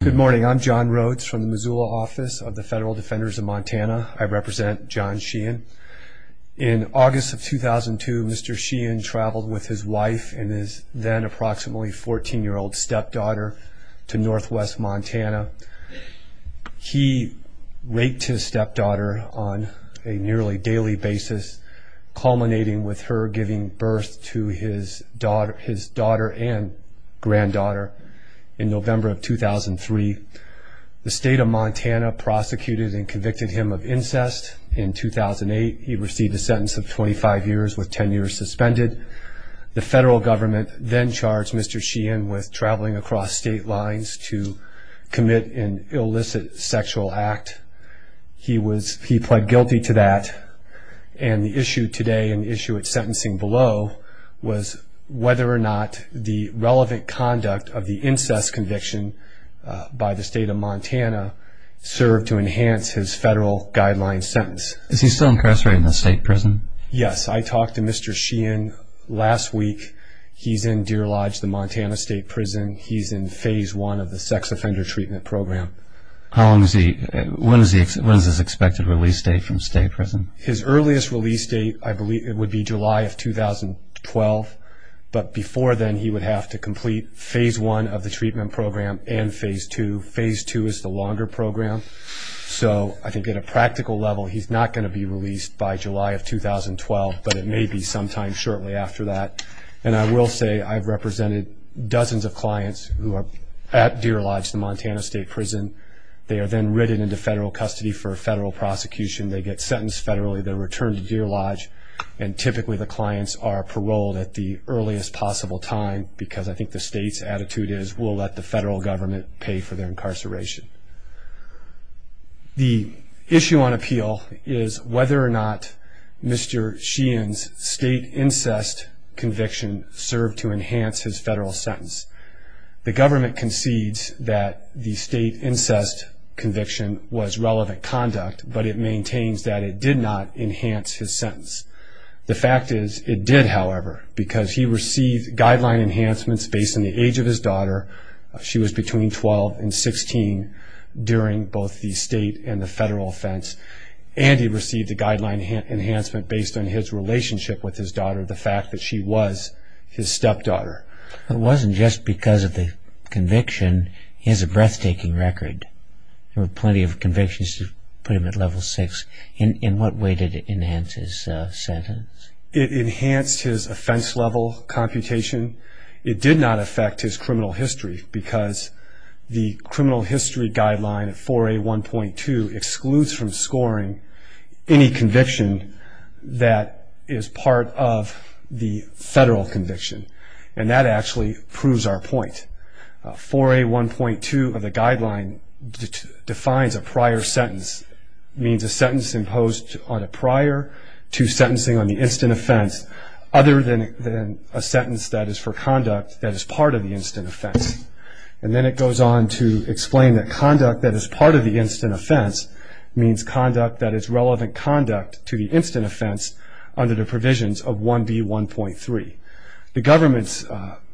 Good morning. I'm John Rhodes from the Missoula office of the Federal Defenders of Montana. I represent John Sheehan. In August of 2002, Mr. Sheehan traveled with his wife and his then approximately 14-year-old stepdaughter to northwest Montana. He raped his stepdaughter on a nearly daily basis, culminating with her giving birth to his daughter and granddaughter in November of 2003. The state of Montana prosecuted and convicted him of incest. In 2008, he received a sentence of 25 years with 10 years suspended. The federal government then charged Mr. Sheehan with traveling across state lines to commit an illicit sexual act. He pled guilty to that, and the issue today and the issue at sentencing below was whether or not the relevant conduct of the incest conviction by the state of Montana served to enhance his federal guideline sentence. Is he still incarcerated in the state prison? Yes. I talked to Mr. Sheehan last week. He's in Deer Lodge, the Montana state prison. He's in phase one of the sex offender treatment program. When is his expected release date from state prison? His earliest release date, I believe it would be July of 2012, but before then he would have to complete phase one of the treatment program and phase two. Phase two is the longer program, so I think at a practical level he's not going to be released by July of 2012, but it may be sometime shortly after that. And I will say I've represented dozens of clients who are at Deer Lodge, the Montana state prison. They are then written into federal custody for a federal prosecution. They get sentenced federally. They're returned to Deer Lodge, and typically the clients are paroled at the earliest possible time because I think the state's attitude is we'll let the federal government pay for their incarceration. The issue on appeal is whether or not Mr. Sheehan's state incest conviction served to enhance his federal sentence. The government concedes that the state incest conviction was relevant conduct, but it maintains that it did not enhance his sentence. The fact is it did, however, because he received guideline enhancements based on the age of his daughter. She was between 12 and 16 during both the state and the federal offense. And he received a guideline enhancement based on his relationship with his daughter, the fact that she was his stepdaughter. It wasn't just because of the conviction. He has a breathtaking record. There were plenty of convictions to put him at level six. In what way did it enhance his sentence? It enhanced his offense level computation. It did not affect his criminal history because the criminal history guideline 4A1.2 excludes from scoring any conviction that is part of the federal conviction, and that actually proves our point. 4A1.2 of the guideline defines a prior sentence, means a sentence imposed on a prior to sentencing on the instant offense other than a sentence that is for conduct that is part of the instant offense. And then it goes on to explain that conduct that is part of the instant offense means conduct that is relevant conduct to the instant offense under the provisions of 1B1.3. The government's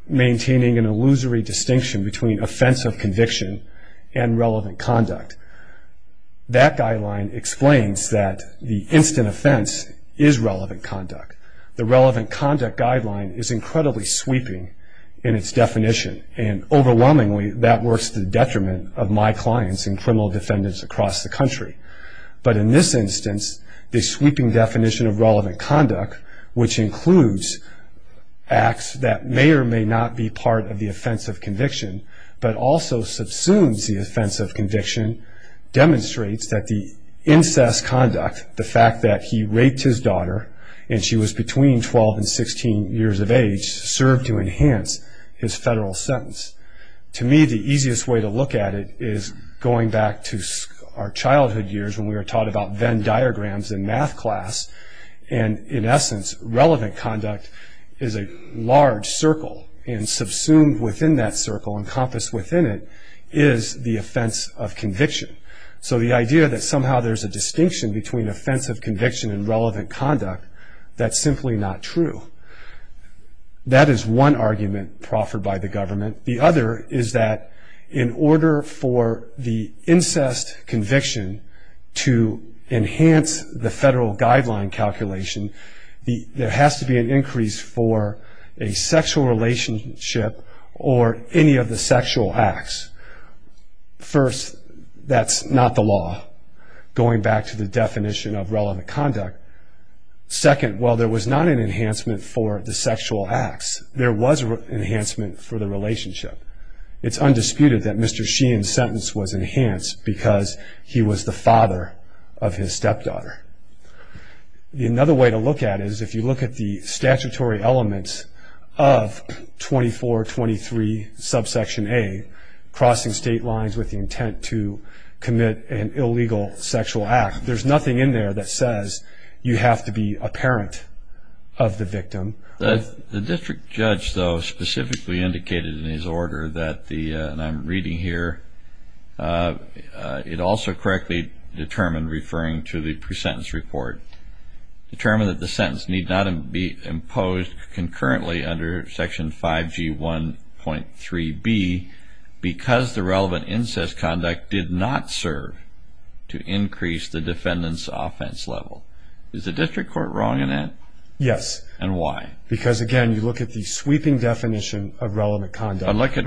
maintaining an illusory distinction between offense of conviction and relevant conduct. That guideline explains that the instant offense is relevant conduct. The relevant conduct guideline is incredibly sweeping in its definition, and overwhelmingly that works to the detriment of my clients and criminal defendants across the country. But in this instance, the sweeping definition of relevant conduct, which includes acts that may or may not be part of the offense of conviction, but also subsumes the offense of conviction, demonstrates that the incest conduct, the fact that he raped his daughter and she was between 12 and 16 years of age, served to enhance his federal sentence. To me, the easiest way to look at it is going back to our childhood years when we were taught about Venn diagrams in math class, and in essence, relevant conduct is a large circle. And subsumed within that circle, encompassed within it, is the offense of conviction. So the idea that somehow there's a distinction between offense of conviction and relevant conduct, that's simply not true. That is one argument proffered by the government. The other is that in order for the incest conviction to enhance the federal guideline calculation, there has to be an increase for a sexual relationship or any of the sexual acts. First, that's not the law, going back to the definition of relevant conduct. Second, while there was not an enhancement for the sexual acts, there was an enhancement for the relationship. It's undisputed that Mr. Sheehan's sentence was enhanced because he was the father of his stepdaughter. Another way to look at it is if you look at the statutory elements of 2423 subsection A, crossing state lines with the intent to commit an illegal sexual act, there's nothing in there that says you have to be a parent of the victim. The district judge, though, specifically indicated in his order that the, and I'm reading here, it also correctly determined, referring to the pre-sentence report, determined that the sentence need not be imposed concurrently under section 5G1.3B because the relevant incest conduct did not serve to increase the defendant's offense level. Is the district court wrong in that? Yes. And why? Because, again, you look at the sweeping definition of relevant conduct. But look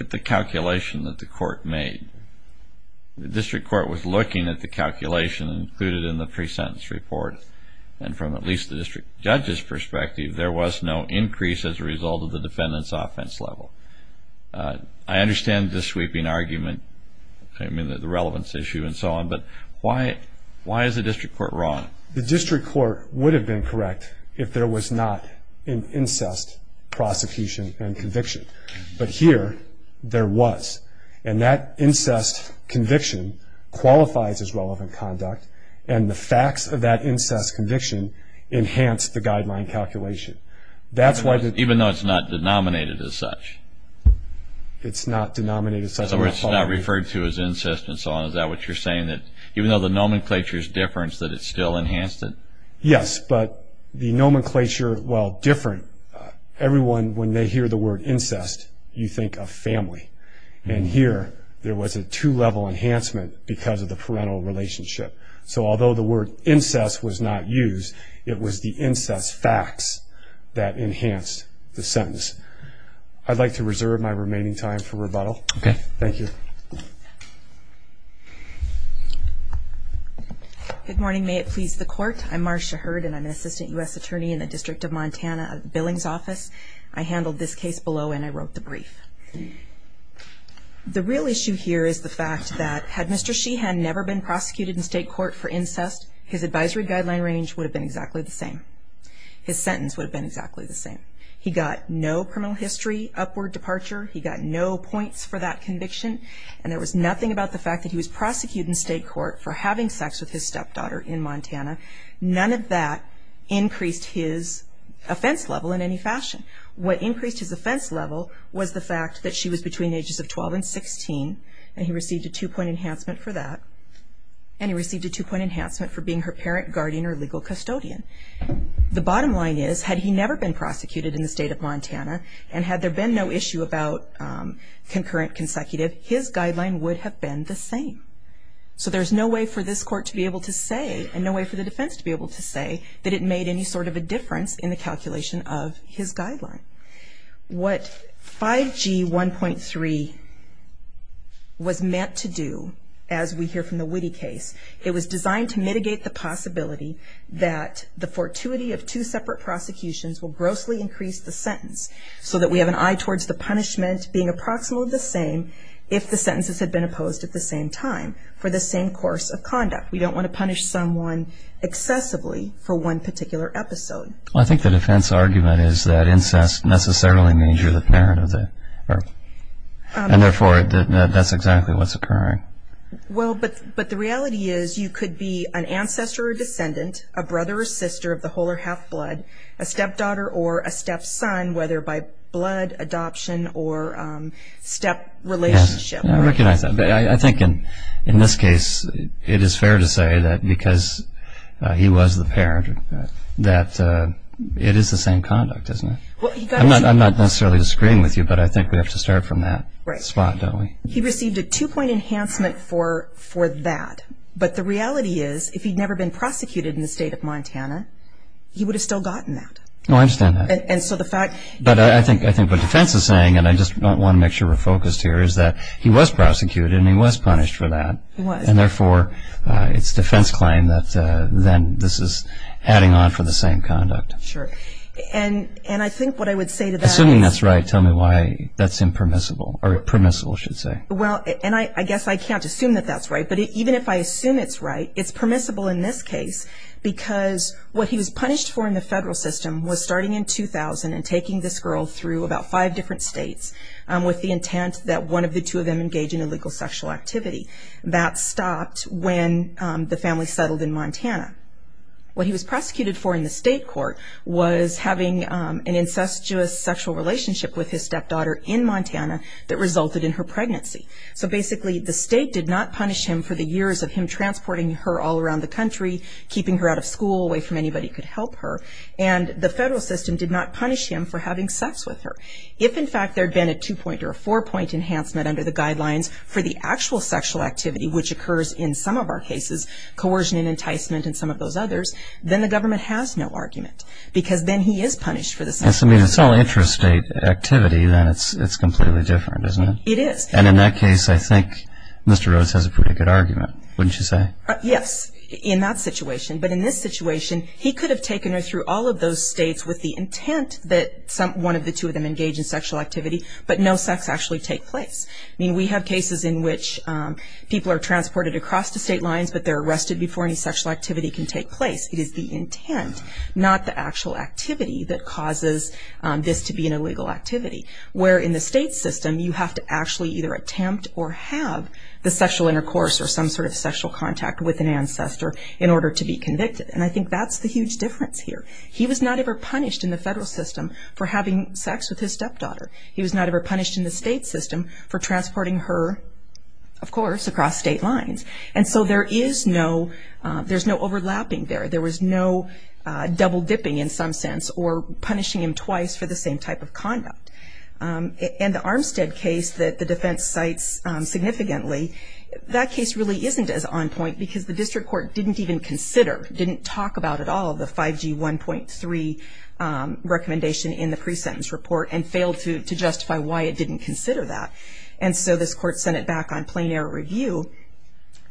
at the calculation that the court made. The district court was looking at the calculation included in the pre-sentence report. And from at least the district judge's perspective, there was no increase as a result of the defendant's offense level. I understand the sweeping argument. I mean, the relevance issue and so on. But why is the district court wrong? The district court would have been correct if there was not an incest prosecution and conviction. But here, there was. And that incest conviction qualifies as relevant conduct. And the facts of that incest conviction enhanced the guideline calculation. Even though it's not denominated as such? It's not denominated as such. In other words, it's not referred to as incest and so on. Is that what you're saying, that even though the nomenclature is different, that it still enhanced it? Yes. But the nomenclature, while different, everyone, when they hear the word incest, you think of family. And here, there was a two-level enhancement because of the parental relationship. So although the word incest was not used, it was the incest facts that enhanced the sentence. I'd like to reserve my remaining time for rebuttal. Okay. Thank you. Good morning. May it please the court. I'm Marcia Hurd, and I'm an assistant U.S. attorney in the District of Montana Billings Office. I handled this case below, and I wrote the brief. The real issue here is the fact that had Mr. Sheehan never been prosecuted in state court for incest, his advisory guideline range would have been exactly the same. His sentence would have been exactly the same. He got no criminal history upward departure. He got no points for that conviction. And there was nothing about the fact that he was prosecuted in state court for having sex with his stepdaughter in Montana. None of that increased his offense level in any fashion. What increased his offense level was the fact that she was between the ages of 12 and 16, and he received a two-point enhancement for that. And he received a two-point enhancement for being her parent, guardian, or legal custodian. The bottom line is, had he never been prosecuted in the state of Montana, and had there been no issue about concurrent, consecutive, his guideline would have been the same. So there's no way for this court to be able to say, and no way for the defense to be able to say, that it made any sort of a difference in the calculation of his guideline. What 5G1.3 was meant to do, as we hear from the Witte case, it was designed to mitigate the possibility that the fortuity of two separate prosecutions will grossly increase the sentence, so that we have an eye towards the punishment being approximately the same if the sentences had been opposed at the same time, for the same course of conduct. We don't want to punish someone excessively for one particular episode. I think the defense argument is that incest necessarily means you're the parent of the... and therefore, that's exactly what's occurring. Well, but the reality is, you could be an ancestor or descendant, a brother or sister of the whole or half blood, a stepdaughter or a stepson, whether by blood adoption or step relationship. I recognize that. I think in this case, it is fair to say that because he was the parent, that it is the same conduct, isn't it? I'm not necessarily disagreeing with you, but I think we have to start from that spot, don't we? He received a two-point enhancement for that. But the reality is, if he'd never been prosecuted in the state of Montana, he would have still gotten that. Oh, I understand that. But I think what defense is saying, and I just want to make sure we're focused here, is that he was prosecuted and he was punished for that. He was. And therefore, it's defense claim that then this is adding on for the same conduct. Sure. And I think what I would say to that is... Assuming that's right, tell me why that's impermissible, or permissible, I should say. Well, and I guess I can't assume that that's right, but even if I assume it's right, it's permissible in this case because what he was punished for in the federal system was starting in 2000 and taking this girl through about five different states with the intent that one of the two of them engage in illegal sexual activity. That stopped when the family settled in Montana. What he was prosecuted for in the state court was having an incestuous sexual relationship with his stepdaughter in Montana that resulted in her pregnancy. So basically, the state did not punish him for the years of him transporting her all around the country, keeping her out of school, away from anybody who could help her. And the federal system did not punish him for having sex with her. If, in fact, there had been a two-point or a four-point enhancement under the guidelines for the actual sexual activity, which occurs in some of our cases, coercion and enticement and some of those others, then the government has no argument. Because then he is punished for the same thing. Yes, I mean, if it's all interstate activity, then it's completely different, isn't it? It is. And in that case, I think Mr. Rhodes has a pretty good argument, wouldn't you say? Yes, in that situation. But in this situation, he could have taken her through all of those states with the intent that one of the two of them engage in sexual activity, but no sex actually take place. I mean, we have cases in which people are transported across the state lines, but they're arrested before any sexual activity can take place. It is the intent, not the actual activity, that causes this to be an illegal activity. Where in the state system, you have to actually either attempt or have the sexual intercourse or some sort of sexual contact with an ancestor in order to be convicted. And I think that's the huge difference here. He was not ever punished in the federal system for having sex with his stepdaughter. He was not ever punished in the state system for transporting her, of course, across state lines. And so there is no overlapping there. There was no double dipping in some sense or punishing him twice for the same type of conduct. And the Armstead case that the defense cites significantly, that case really isn't as on point because the district court didn't even consider, didn't talk about at all the 5G 1.3 recommendation in the pre-sentence report and failed to justify why it didn't consider that. And so this court sent it back on plain error review.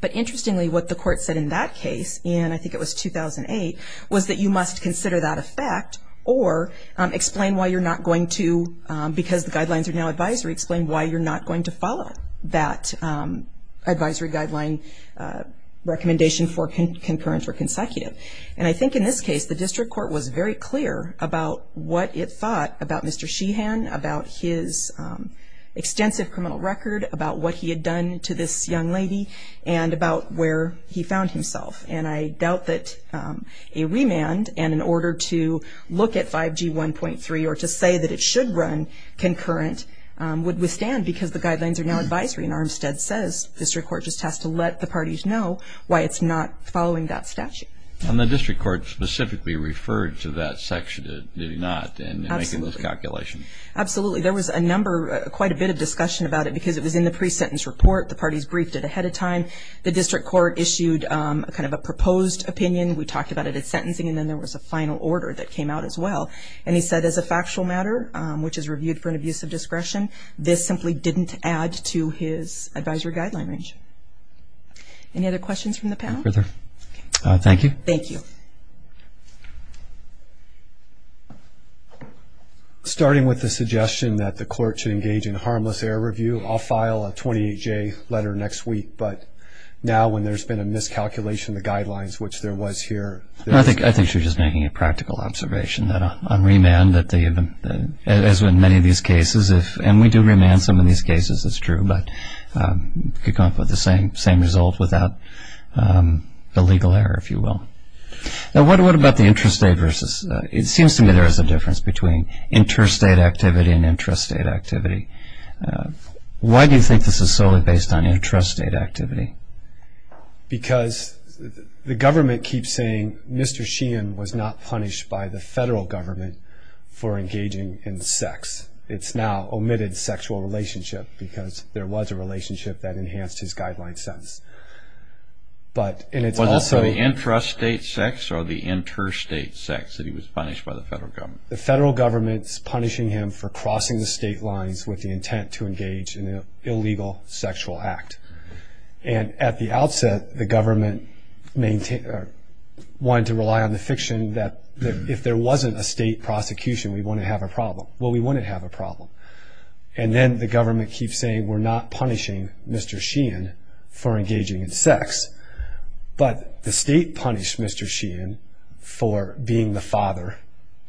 But interestingly, what the court said in that case, and I think it was 2008, was that you must consider that a fact or explain why you're not going to, because the guidelines are now advisory, explain why you're not going to follow that advisory guideline recommendation for concurrence or consecutive. And I think in this case, the district court was very clear about what it thought about Mr. Sheehan, about his extensive criminal record, about what he had done to this young lady, and about where he found himself. And I doubt that a remand, and in order to look at 5G 1.3 or to say that it should run concurrent, would withstand because the guidelines are now advisory. And Armstead says district court just has to let the parties know why it's not following that statute. And the district court specifically referred to that section, did it not, in making those calculations? Absolutely. There was a number, quite a bit of discussion about it because it was in the pre-sentence report. The parties briefed it ahead of time. The district court issued kind of a proposed opinion. We talked about it at sentencing, and then there was a final order that came out as well. And he said as a factual matter, which is reviewed for an abuse of discretion, this simply didn't add to his advisory guideline range. Any other questions from the panel? No further. Thank you. Thank you. Starting with the suggestion that the court should engage in harmless error review, I'll file a 28-J letter next week. But now when there's been a miscalculation of the guidelines, which there was here. I think you're just making a practical observation that on remand, as in many of these cases, and we do remand some of these cases, it's true, but you can come up with the same result without the legal error, if you will. Now what about the interstate versus? It seems to me there is a difference between interstate activity and intrastate activity. Why do you think this is solely based on intrastate activity? Because the government keeps saying Mr. Sheehan was not punished by the federal government for engaging in sex. It's now omitted sexual relationship because there was a relationship that enhanced his guideline sentence. Was it the intrastate sex or the interstate sex that he was punished by the federal government? The federal government's punishing him for crossing the state lines with the intent to engage in an illegal sexual act. And at the outset, the government wanted to rely on the fiction that if there wasn't a state prosecution, we wouldn't have a problem. Well, we wouldn't have a problem. And then the government keeps saying we're not punishing Mr. Sheehan for engaging in sex. But the state punished Mr. Sheehan for being the father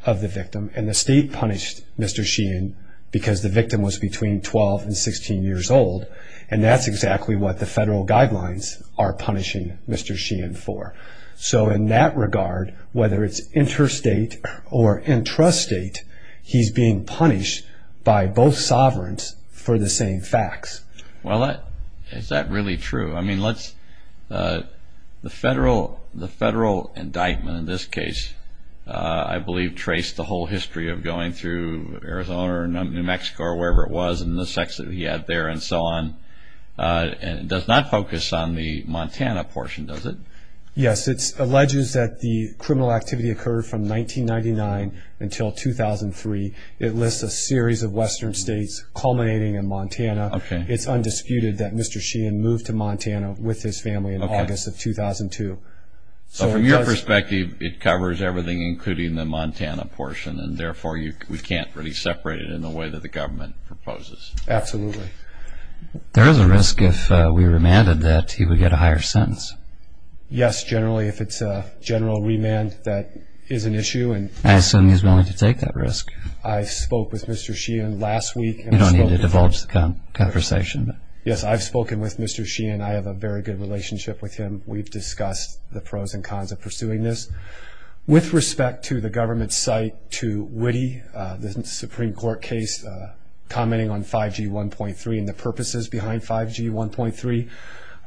of the victim, and the state punished Mr. Sheehan because the victim was between 12 and 16 years old, and that's exactly what the federal guidelines are punishing Mr. Sheehan for. So in that regard, whether it's interstate or intrastate, he's being punished by both sovereigns for the same facts. Well, is that really true? I mean, the federal indictment in this case, I believe, traced the whole history of going through Arizona or New Mexico or wherever it was and the sex that he had there and so on. It does not focus on the Montana portion, does it? Yes, it alleges that the criminal activity occurred from 1999 until 2003. It lists a series of western states culminating in Montana. It's undisputed that Mr. Sheehan moved to Montana with his family in August of 2002. So from your perspective, it covers everything, including the Montana portion, and therefore we can't really separate it in the way that the government proposes. Absolutely. There is a risk if we remanded that he would get a higher sentence. Yes, generally, if it's a general remand, that is an issue. I assume he's willing to take that risk. I spoke with Mr. Sheehan last week. You don't need to divulge the conversation. Yes, I've spoken with Mr. Sheehan. I have a very good relationship with him. We've discussed the pros and cons of pursuing this. With respect to the government's cite to Witte, the Supreme Court case commenting on 5G 1.3 and the purposes behind 5G 1.3,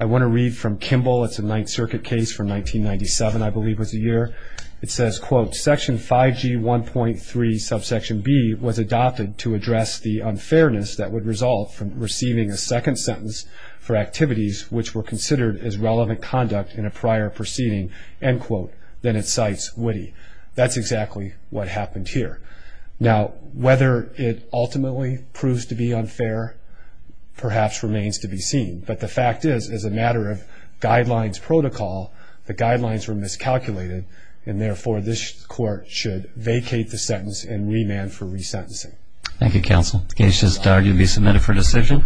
I want to read from Kimball. It's a Ninth Circuit case from 1997, I believe was the year. It says, quote, Section 5G 1.3 subsection B was adopted to address the unfairness that would result from receiving a second sentence for activities which were considered as relevant conduct in a prior proceeding, end quote. Then it cites Witte. That's exactly what happened here. Now, whether it ultimately proves to be unfair perhaps remains to be seen. But the fact is, as a matter of guidelines protocol, the guidelines were miscalculated, and therefore this court should vacate the sentence and remand for resentencing. Thank you, counsel. The case is dogged and be submitted for decision.